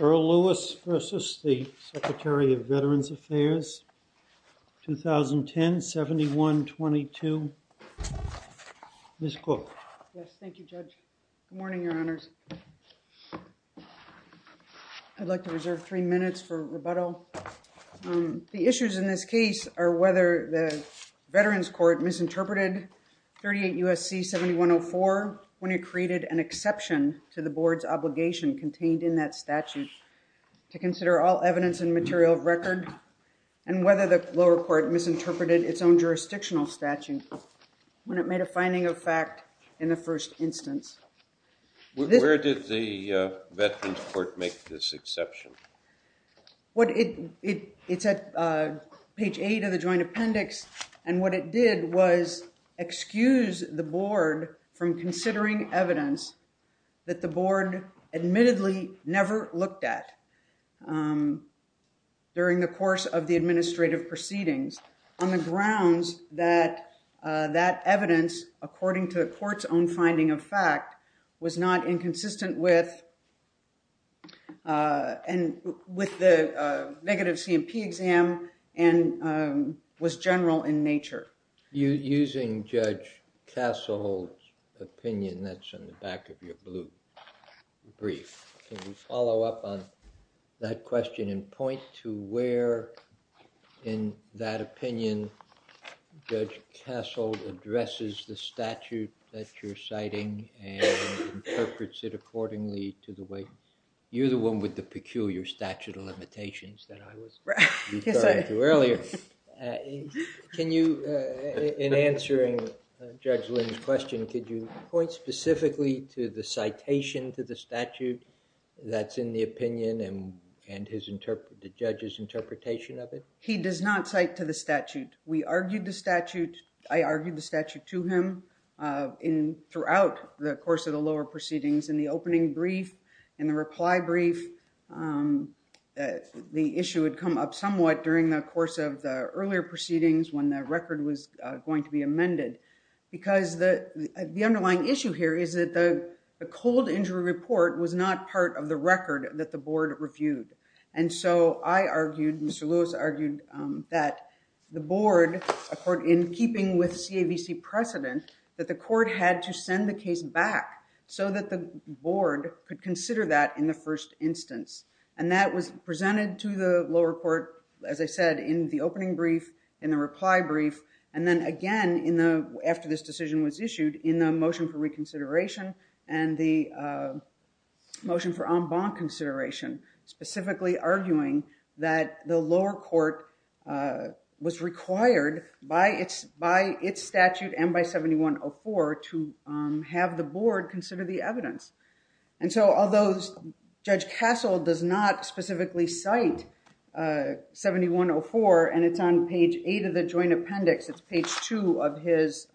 EARL LEWIS v. SECRETARY OF VETERANS' AFFAIRS 2010-71-22 Ms. Cook. Yes, thank you, Judge. Good morning, Your Honors. I'd like to reserve three minutes for rebuttal. The issues in this case are whether the Veterans Court misinterpreted 38 U.S.C. 7104 when it created an exception to the Board's obligation contained in that statute to consider all evidence and material of record, and whether the lower court misinterpreted its own jurisdictional statute. When it made a finding of fact in the first instance. Where did the Veterans Court make this exception? It's at page 8 of the joint appendix. And what it did was excuse the Board from considering evidence that the Board admittedly never looked at during the course of the administrative proceedings. On the grounds that that evidence, according to the court's own finding of fact, was not inconsistent with the negative C&P exam and was general in nature. Using Judge Cassell's opinion that's on the back of your blue brief, can you follow up on that question and point to where in that opinion Judge Cassell addresses the statute that you're citing and interprets it accordingly to the way you're the one with the peculiar statute of limitations that I was referring to earlier. Can you, in answering Judge Lynn's question, could you point specifically to the citation to the statute that's in the opinion and the judge's interpretation of it? He does not cite to the statute. We argued the statute. I argued the statute to him throughout the course of the lower proceedings in the opening brief and the reply brief. The issue would come up somewhat during the course of the earlier proceedings when the record was going to be amended. Because the underlying issue here is that the cold injury report was not part of the record that the Board reviewed. And so I argued, Mr. Lewis argued, that the Board, in keeping with CAVC precedent, that the court had to send the case back so that the Board could consider that in the first instance. And that was presented to the lower court, as I said, in the opening brief, in the reply brief, and then again after this decision was issued in the motion for reconsideration and the motion for en banc consideration, specifically arguing that the lower court was required by its statute and by 7104 to have the Board consider the evidence. And so although Judge Castle does not specifically cite 7104, and it's on page 8 of the joint appendix, it's page 2 of his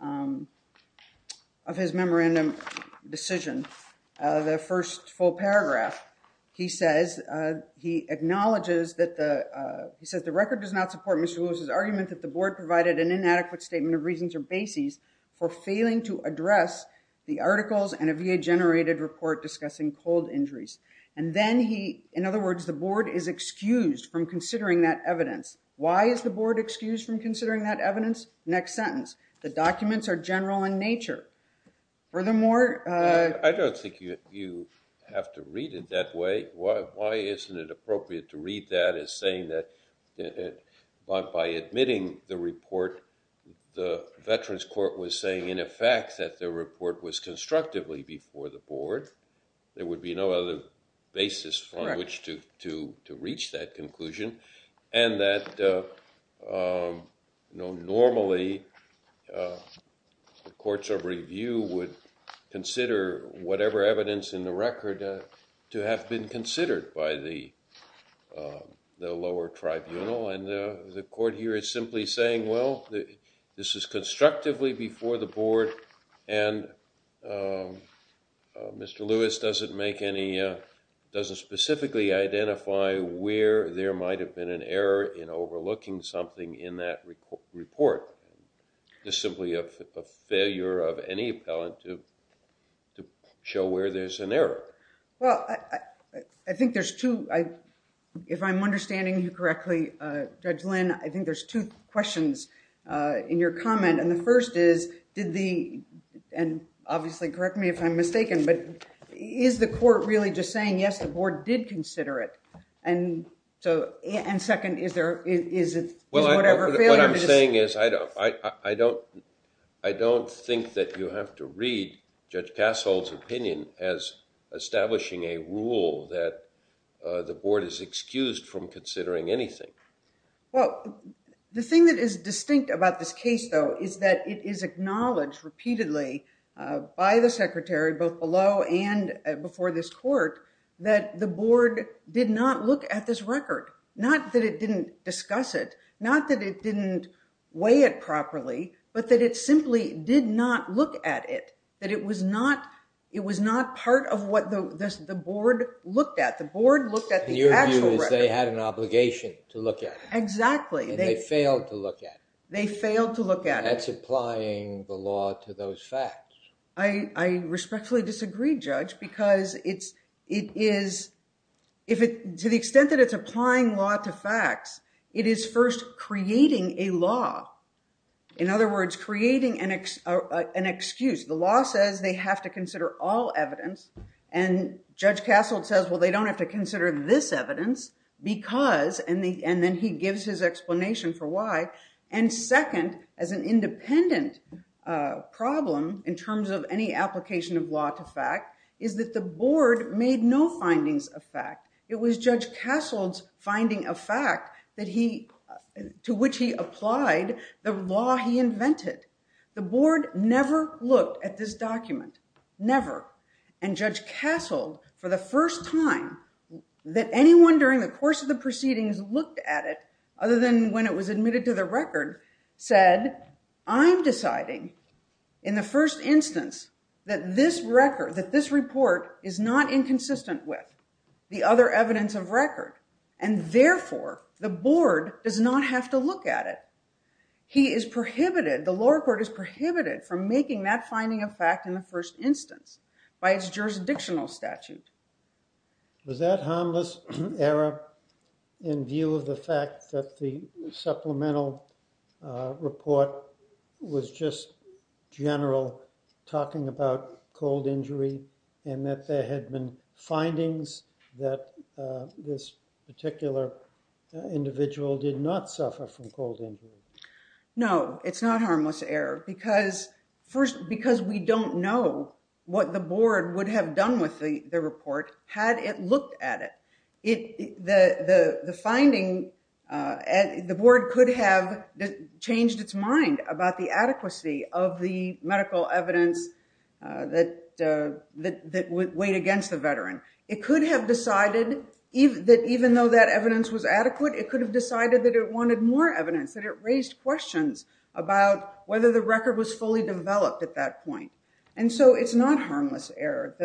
memorandum decision, the first full paragraph, he says, he acknowledges that the record does not support Mr. Lewis' argument that the Board provided an inadequate statement of reasons or bases for failing to address the articles and a VA-generated report discussing cold injuries. And then he, in other words, the Board is excused from considering that evidence. Why is the Board excused from considering that evidence? Next sentence. The documents are general in nature. Furthermore... I don't think you have to read it that way. Why isn't it appropriate to read that as saying that by admitting the report, the Veterans Court was saying, in effect, that the report was constructively before the Board. There would be no other basis on which to reach that conclusion. And that normally the courts of review would consider whatever evidence in the record to have been considered by the lower tribunal. And the court here is simply saying, well, this is constructively before the Board, and Mr. Lewis doesn't make any, doesn't specifically identify where there might have been an error in overlooking something in that report. It's simply a failure of any appellant to show where there's an error. Well, I think there's two, if I'm understanding you correctly, Judge Lynn, I think there's two questions in your comment. And the first is, did the, and obviously correct me if I'm mistaken, but is the court really just saying, yes, the Board did consider it? And so, and second, is there, is it whatever failure? What I'm saying is I don't, I don't, I don't think that you have to read Judge Passolt's opinion as establishing a rule that the Board is excused from considering anything. Well, the thing that is distinct about this case, though, is that it is acknowledged repeatedly by the secretary, both below and before this court, that the Board did not look at this record. Not that it didn't discuss it, not that it didn't weigh it properly, but that it simply did not look at it. That it was not, it was not part of what the Board looked at. The Board looked at the actual record. Your view is they had an obligation to look at it. Exactly. And they failed to look at it. They failed to look at it. And that's applying the law to those facts. I respectfully disagree, Judge, because it's, it is, if it, to the extent that it's applying law to facts, it is first creating a law. In other words, creating an excuse. The law says they have to consider all evidence, and Judge Passolt says, well, they don't have to consider this evidence because, and then he gives his explanation for why. And second, as an independent problem, in terms of any application of law to fact, is that the Board made no findings of fact. It was Judge Passolt's finding of fact that he, to which he applied the law he invented. The Board never looked at this document, never. And Judge Passolt, for the first time, that anyone during the course of the proceedings looked at it, other than when it was admitted to the record, said, I'm deciding in the first instance that this record, that this report is not inconsistent with the other evidence of record. And therefore, the Board does not have to look at it. He is prohibited, the lower court is prohibited from making that finding of fact in the first instance by its jurisdictional statute. Was that harmless error in view of the fact that the supplemental report was just general, talking about cold injury, and that there had been findings that this particular individual did not suffer from cold injury? No, it's not harmless error because, first, because we don't know what the Board would have done with the report had it looked at it. The finding, the Board could have changed its mind about the adequacy of the medical evidence that weighed against the veteran. It could have decided that even though that evidence was adequate, it could have decided that it wanted more evidence, that it raised questions about whether the record was fully developed at that point. And so it's not harmless error.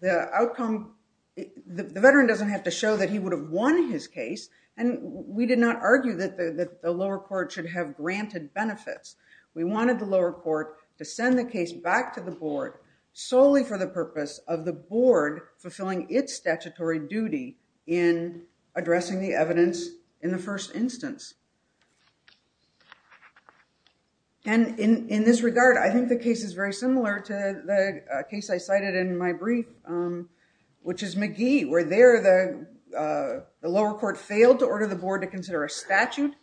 The outcome, the veteran doesn't have to show that he would have won his case. And we did not argue that the lower court should have granted benefits. We wanted the lower court to send the case back to the Board solely for the purpose of the Board fulfilling its statutory duty in addressing the evidence in the first instance. And in this regard, I think the case is very similar to the case I cited in my brief, which is McGee, where there the lower court failed to order the Board to consider a statute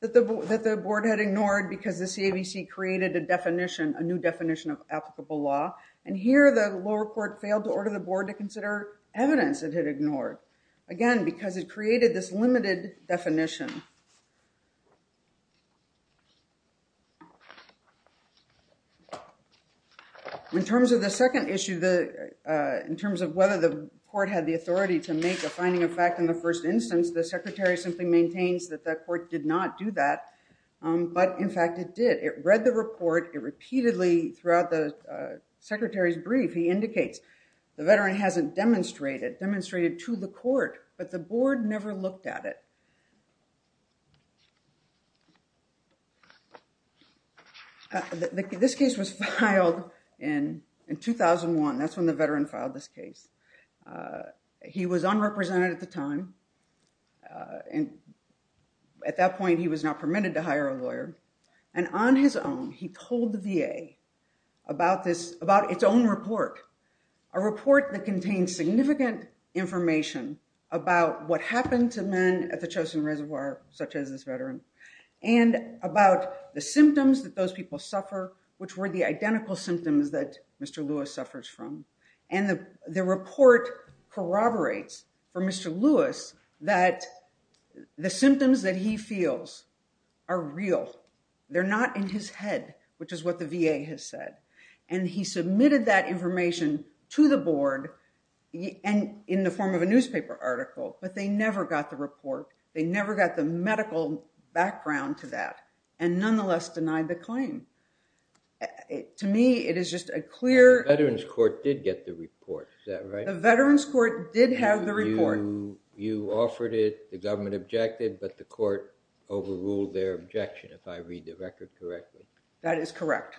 that the Board had ignored because the CAVC created a definition, a new definition of applicable law. And here the lower court failed to order the Board to consider evidence it had ignored. Again, because it created this limited definition. In terms of the second issue, in terms of whether the court had the authority to make a finding of fact in the first instance, the secretary simply maintains that the court did not do that. But in fact, it did. It read the report. It repeatedly, throughout the secretary's brief, he indicates the veteran hasn't demonstrated, demonstrated to the court, but the Board never looked at it. This case was filed in 2001. That's when the veteran filed this case. He was unrepresented at the time. At that point, he was not permitted to hire a lawyer. And on his own, he told the VA about this, about its own report, a report that contains significant information about what happened to men at the Chosin Reservoir, such as this veteran, and about the symptoms that those people suffer, which were the identical symptoms that Mr. Lewis suffers from. And the report corroborates for Mr. Lewis that the symptoms that he feels are real. They're not in his head, which is what the VA has said. And he submitted that information to the Board in the form of a newspaper article, but they never got the report. They never got the medical background to that and nonetheless denied the claim. To me, it is just a clear... The Veterans Court did get the report, is that right? The Veterans Court did have the report. You offered it, the government objected, but the court overruled their objection, if I read the record correctly. That is correct,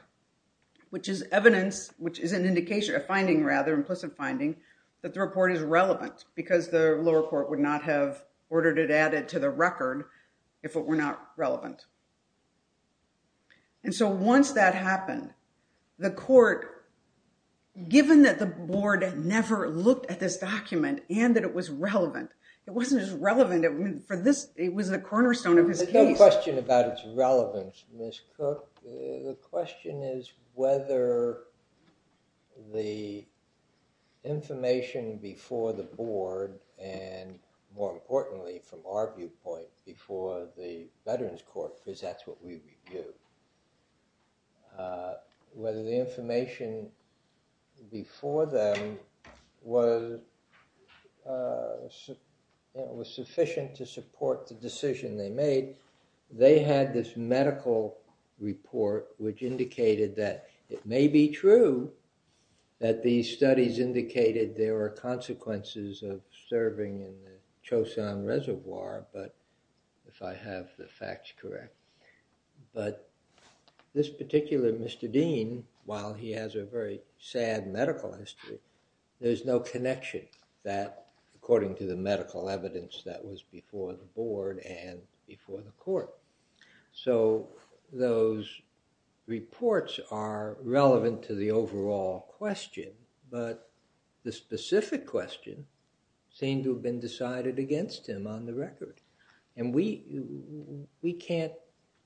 which is evidence, which is an indication, a finding rather, implicit finding, that the report is relevant because the lower court would not have ordered it added to the record if it were not relevant. And so once that happened, the court, given that the Board never looked at this document and that it was relevant, it wasn't just relevant for this, it was a cornerstone of his case. The question about its relevance, Ms. Cook, the question is whether the information before the Board and, more importantly, from our viewpoint, before the Veterans Court, because that's what we review, whether the information before them was sufficient to support the decision they made. They had this medical report which indicated that it may be true that these studies indicated there were consequences of serving in the Choson Reservoir, if I have the facts correct. But this particular Mr. Dean, while he has a very sad medical history, there's no connection that, according to the medical evidence that was before the Board and before the court. So those reports are relevant to the overall question, but the specific question seemed to have been decided against him on the record. And we can't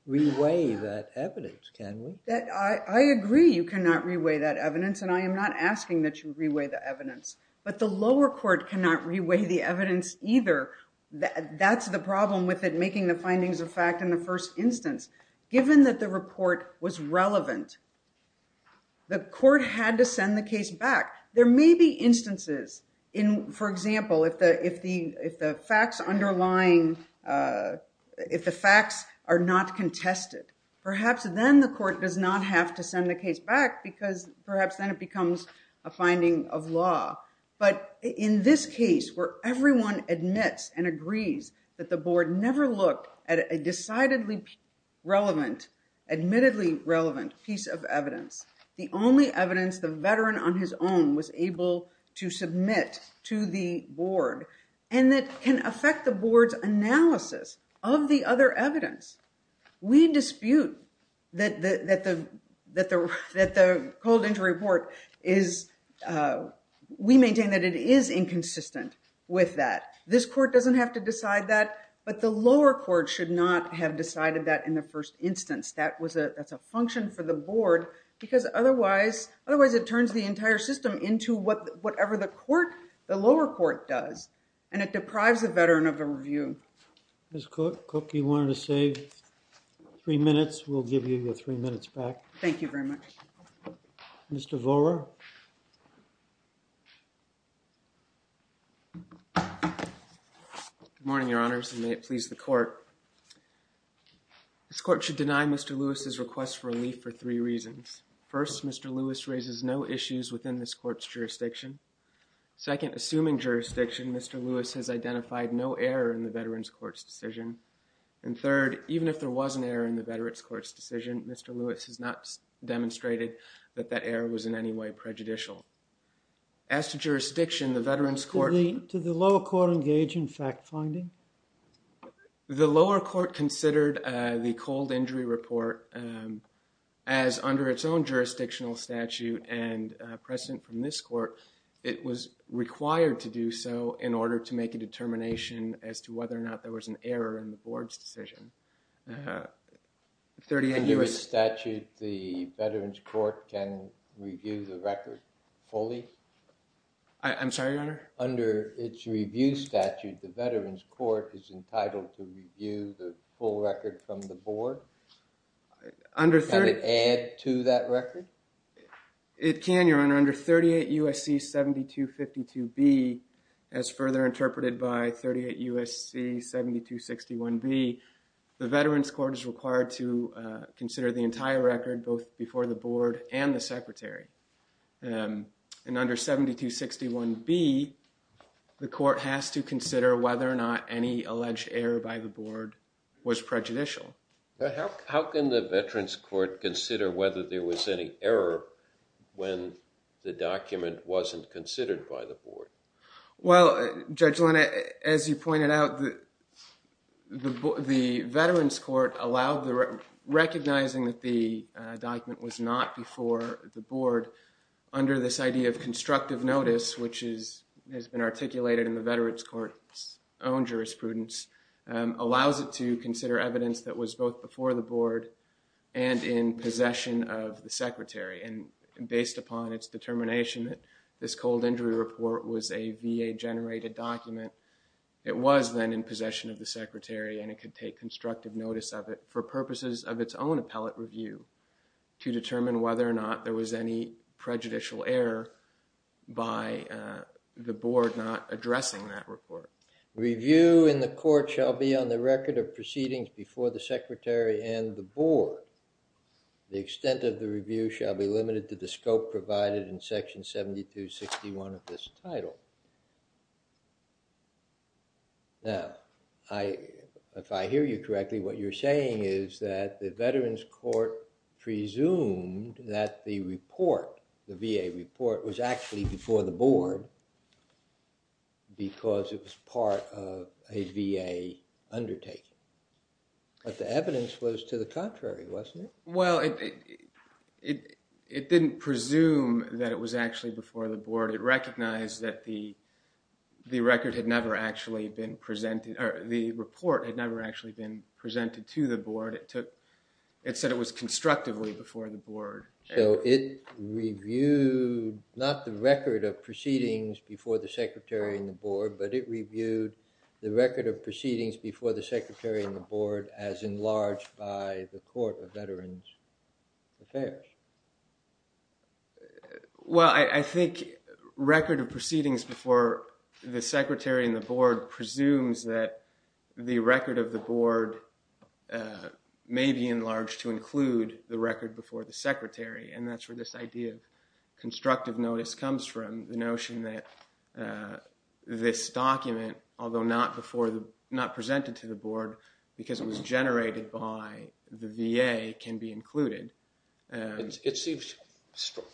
reweigh that evidence, can we? I agree you cannot reweigh that evidence, and I am not asking that you reweigh the evidence, but the lower court cannot reweigh the evidence either. That's the problem with it making the findings of fact in the first instance. Given that the report was relevant, the court had to send the case back. There may be instances, for example, if the facts are not contested, perhaps then the court does not have to send the case back because perhaps then it becomes a finding of law. But in this case where everyone admits and agrees that the Board never looked at a decidedly relevant, admittedly relevant piece of evidence, the only evidence the veteran on his own was able to submit to the Board and that can affect the Board's analysis of the other evidence, we dispute that the cold injury report is, we maintain that it is inconsistent with that. This court doesn't have to decide that, but the lower court should not have decided that in the first instance. That's a function for the Board because otherwise it turns the entire system into whatever the lower court does, and it deprives the veteran of a review. Ms. Cook, you wanted to save three minutes. We'll give you your three minutes back. Thank you very much. Mr. Vohra. Good morning, Your Honors, and may it please the Court. This court should deny Mr. Lewis's request for relief for three reasons. First, Mr. Lewis raises no issues within this court's jurisdiction. Second, assuming jurisdiction, Mr. Lewis has identified no error in the veteran's court's decision. And third, even if there was an error in the veteran's court's decision, Mr. Lewis has not demonstrated that that error was in any way prejudicial. As to jurisdiction, the veteran's court... Did the lower court engage in fact finding? The lower court considered the cold injury report as, under its own jurisdictional statute and precedent from this court, it was required to do so in order to make a determination as to whether or not there was an error in the Board's decision. Under its statute, the veteran's court can review the record fully? I'm sorry, Your Honor? Under its review statute, the veteran's court is entitled to review the full record from the Board? Can it add to that record? It can, Your Honor. Under 38 U.S.C. 7252B, as further interpreted by 38 U.S.C. 7261B, the veteran's court is required to consider the entire record both before the Board and the Secretary. And under 7261B, the court has to consider whether or not any alleged error by the Board was prejudicial. How can the veteran's court consider whether there was any error when the document wasn't considered by the Board? Well, Judge Linna, as you pointed out, the veteran's court, recognizing that the document was not before the Board, under this idea of constructive notice, which has been articulated in the veteran's court's own jurisprudence, allows it to consider evidence that was both before the Board and in possession of the Secretary. And based upon its determination that this cold injury report was a VA-generated document, it was then in possession of the Secretary and it could take constructive notice of it for purposes of its own appellate review to determine whether or not there was any prejudicial error by the Board not addressing that report. Review in the court shall be on the record of proceedings before the Secretary and the Board. The extent of the review shall be limited to the scope provided in Section 7261 of this title. Now, if I hear you correctly, what you're saying is that the veteran's court presumed that the report, the VA report, was actually before the Board because it was part of a VA undertaking. But the evidence was to the contrary, wasn't it? Well, it didn't presume that it was actually before the Board. It recognized that the record had never actually been presented, or the report had never actually been presented to the Board. It said it was constructively before the Board. So it reviewed not the record of proceedings before the Secretary and the Board, but it reviewed the record of proceedings before the Secretary and the Board as enlarged by the Court of Veterans Affairs. Well, I think record of proceedings before the Secretary and the Board presumes that the record of the Board may be enlarged to include the record before the Secretary, and that's where this idea of constructive notice comes from, the notion that this document, although not presented to the Board, because it was generated by the VA, can be included. It seems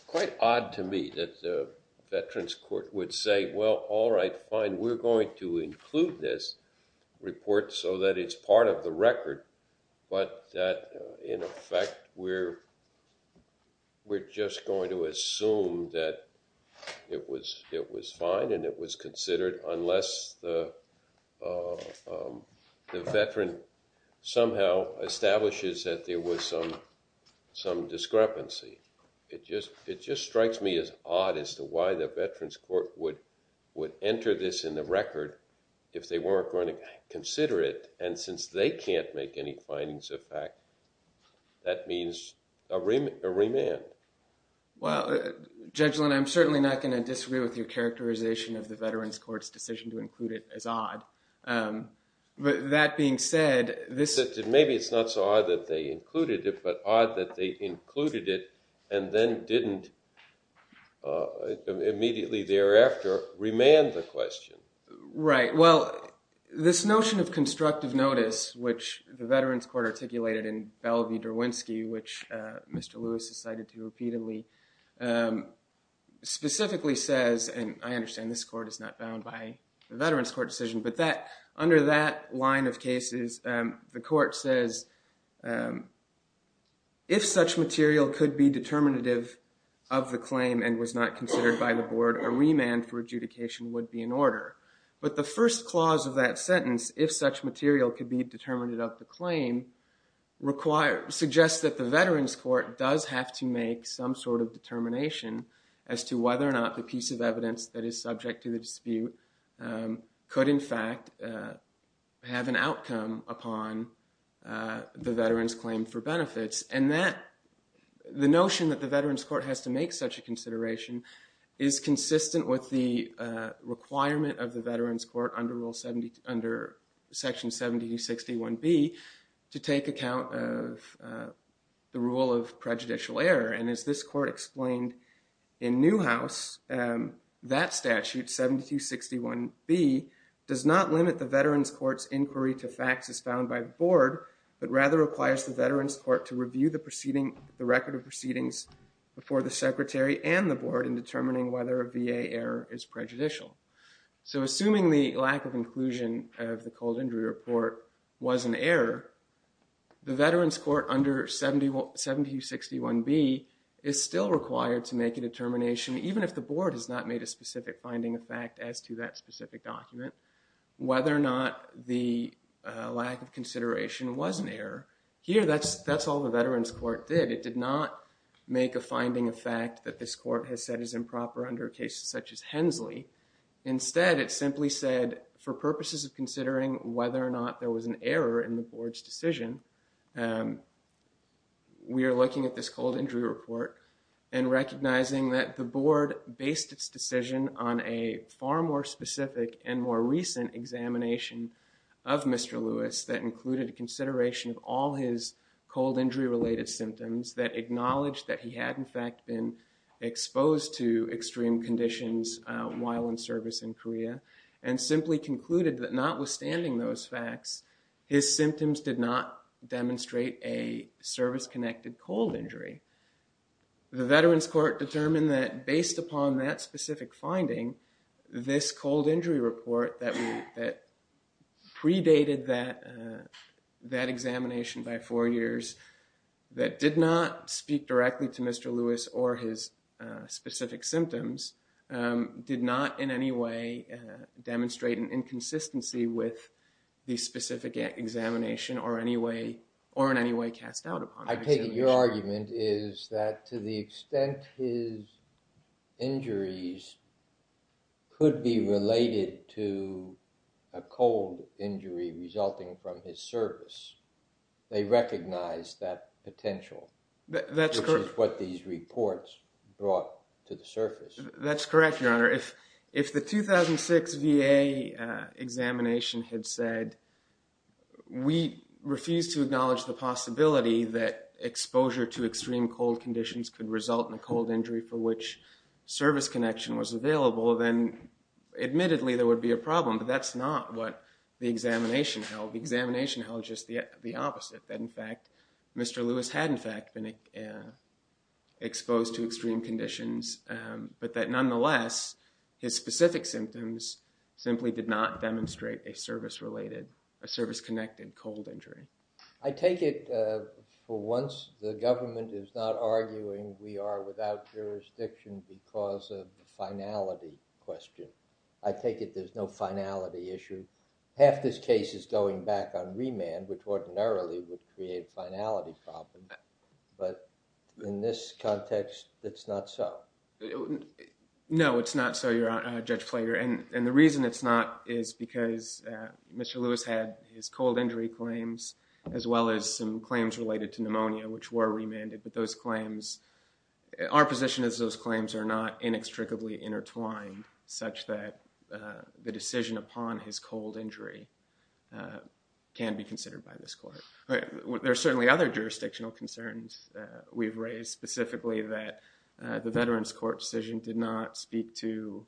quite odd to me that the veterans court would say, well, all right, fine, we're going to include this report so that it's part of the record, but that, in effect, we're just going to assume that it was fine and it was considered unless the veteran somehow establishes that there was some discrepancy. It just strikes me as odd as to why the veterans court would enter this in the record if they weren't going to consider it, and since they can't make any findings of fact, that means a remand. Well, Judge Lynn, I'm certainly not going to disagree with your characterization of the veterans court's decision to include it as odd. But that being said, this- Maybe it's not so odd that they included it, but odd that they included it and then didn't immediately thereafter remand the question. Right. Well, this notion of constructive notice, which the veterans court articulated in Belle v. Derwinski, which Mr. Lewis has cited repeatedly, specifically says, and I understand this court is not bound by the veterans court decision, but under that line of cases, the court says, if such material could be determinative of the claim and was not considered by the board, a remand for adjudication would be in order. But the first clause of that sentence, if such material could be determinative of the claim, suggests that the veterans court does have to make some sort of determination as to whether or not the piece of evidence that is subject to the dispute could, in fact, have an outcome upon the veterans claim for benefits. And that, the notion that the veterans court has to make such a consideration is consistent with the requirement of the veterans court under Section 7261B to take account of the rule of prejudicial error. And as this court explained in Newhouse, that statute, 7261B, does not limit the veterans court's inquiry to facts as found by the board, but rather requires the veterans court to review the proceeding, the record of proceedings before the secretary and the board in determining whether a VA error is prejudicial. So assuming the lack of inclusion of the cold injury report was an error, the veterans court under 7261B is still required to make a determination, even if the board has not made a specific finding of fact as to that specific document, whether or not the lack of consideration was an error. Here, that's all the veterans court did. It did not make a finding of fact that this court has said is improper under cases such as Hensley. Instead, it simply said, for purposes of considering whether or not there was an error in the board's decision, we are looking at this cold injury report and recognizing that the board based its decision on a far more specific and more recent examination of Mr. Lewis that included a consideration of all his cold injury-related symptoms that acknowledged that he had, in fact, been exposed to extreme conditions while in service in Korea and simply concluded that notwithstanding those facts, his symptoms did not demonstrate a service-connected cold injury. The veterans court determined that based upon that specific finding, this cold injury report that predated that examination by four years, that did not speak directly to Mr. Lewis or his specific symptoms, did not in any way demonstrate an inconsistency with the specific examination or in any way cast doubt upon it. I take it your argument is that to the extent his injuries could be related to a cold injury resulting from his service, they recognized that potential. That's correct. Which is what these reports brought to the surface. That's correct, Your Honor. If the 2006 VA examination had said, we refuse to acknowledge the possibility that exposure to extreme cold conditions could result in a cold injury for which service connection was available, then admittedly there would be a problem. But that's not what the examination held. The examination held just the opposite, that, in fact, Mr. Lewis had, in fact, been exposed to extreme conditions, but that, nonetheless, his specific symptoms simply did not demonstrate a service-related, a service-connected cold injury. I take it, for once, the government is not arguing we are without jurisdiction because of the finality question. I take it there's no finality issue. Half this case is going back on remand, which ordinarily would create finality problems. But in this context, it's not so. No, it's not so, Judge Flager. And the reason it's not is because Mr. Lewis had his cold injury claims, as well as some claims related to pneumonia, which were remanded. But those claims, our position is those claims are not inextricably intertwined, such that the decision upon his cold injury can be considered by this court. There are certainly other jurisdictional concerns we've raised, specifically that the Veterans Court decision did not speak to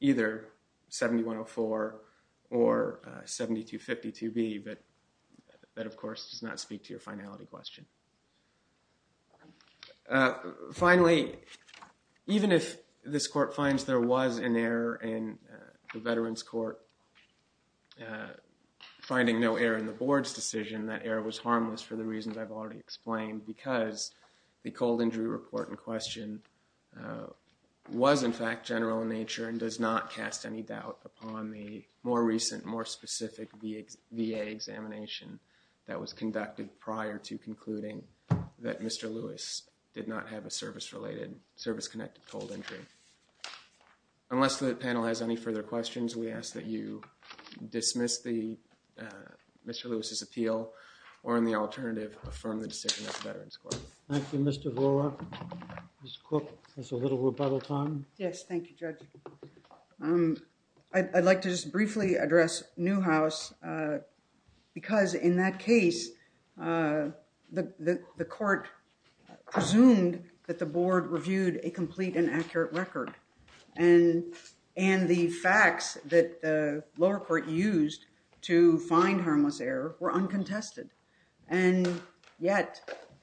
either 7104 or 7252B, but that, of course, does not speak to your finality question. Finally, even if this court finds there was an error in the Veterans Court finding no error in the board's decision, that error was harmless for the reasons I've already explained, because the cold injury report in question was, in fact, general in nature and does not cast any doubt upon the more recent, more specific VA examination that was conducted prior to concluding that Mr. Lewis did not have a service-related, service-connected cold injury. Unless the panel has any further questions, we ask that you dismiss Mr. Lewis's appeal or, in the alternative, affirm the decision of the Veterans Court. Thank you, Mr. Horwath. Ms. Cook, there's a little rebuttal time. Yes, thank you, Judge. I'd like to just briefly address Newhouse, because in that case, the court presumed that the board reviewed a complete and accurate record, and the facts that the lower court used to find harmless error were uncontested. And yet,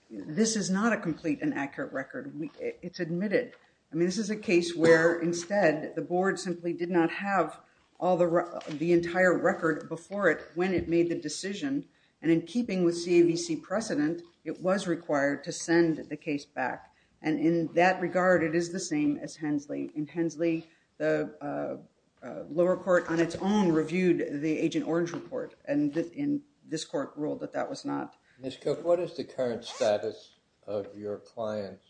this is not a complete and accurate record. It's admitted. I mean, this is a case where, instead, the board simply did not have the entire record before it when it made the decision, and in keeping with CAVC precedent, it was required to send the case back. And in that regard, it is the same as Hensley. In Hensley, the lower court on its own reviewed the Agent Orange report, and this court ruled that that was not. Ms. Cook, what is the current status of your client's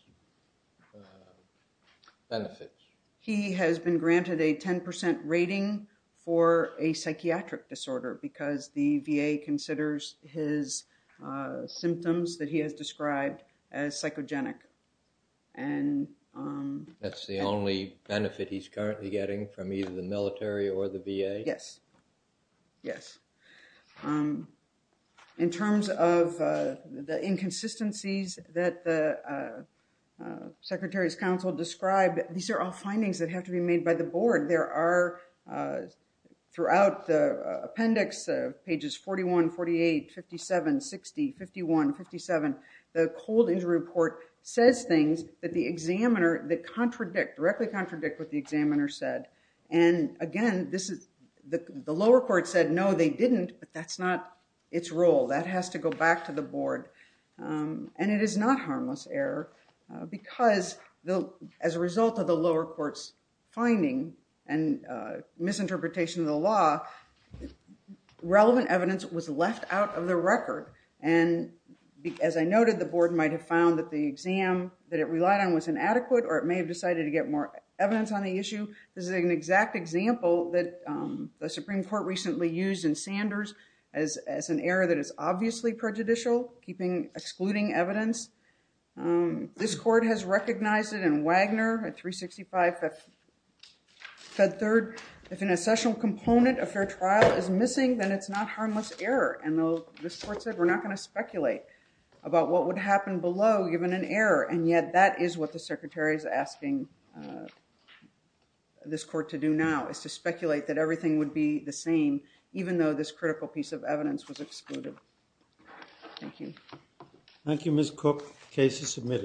benefits? He has been granted a 10% rating for a psychiatric disorder, because the VA considers his symptoms that he has described as psychogenic. That's the only benefit he's currently getting from either the military or the VA? Yes, yes. In terms of the inconsistencies that the secretary's counsel described, these are all findings that have to be made by the board. Throughout the appendix, pages 41, 48, 57, 60, 51, 57, the cold injury report says things that directly contradict what the examiner said. And again, the lower court said, no, they didn't, but that's not its role. That has to go back to the board. And it is not harmless error, because as a result of the lower court's finding and misinterpretation of the law, relevant evidence was left out of the record. And as I noted, the board might have found that the exam that it relied on was inadequate or it may have decided to get more evidence on the issue. This is an exact example that the Supreme Court recently used in Sanders as an error that is obviously prejudicial, excluding evidence. This court has recognized it in Wagner at 365 Fed Third. If an accessional component of their trial is missing, then it's not harmless error. And this court said, we're not going to speculate about what would happen below given an error. And yet, that is what the secretary is asking this court to do now, is to speculate that everything would be the same, even though this critical piece of evidence was excluded. Thank you. Thank you, Ms. Cook. Case is submitted.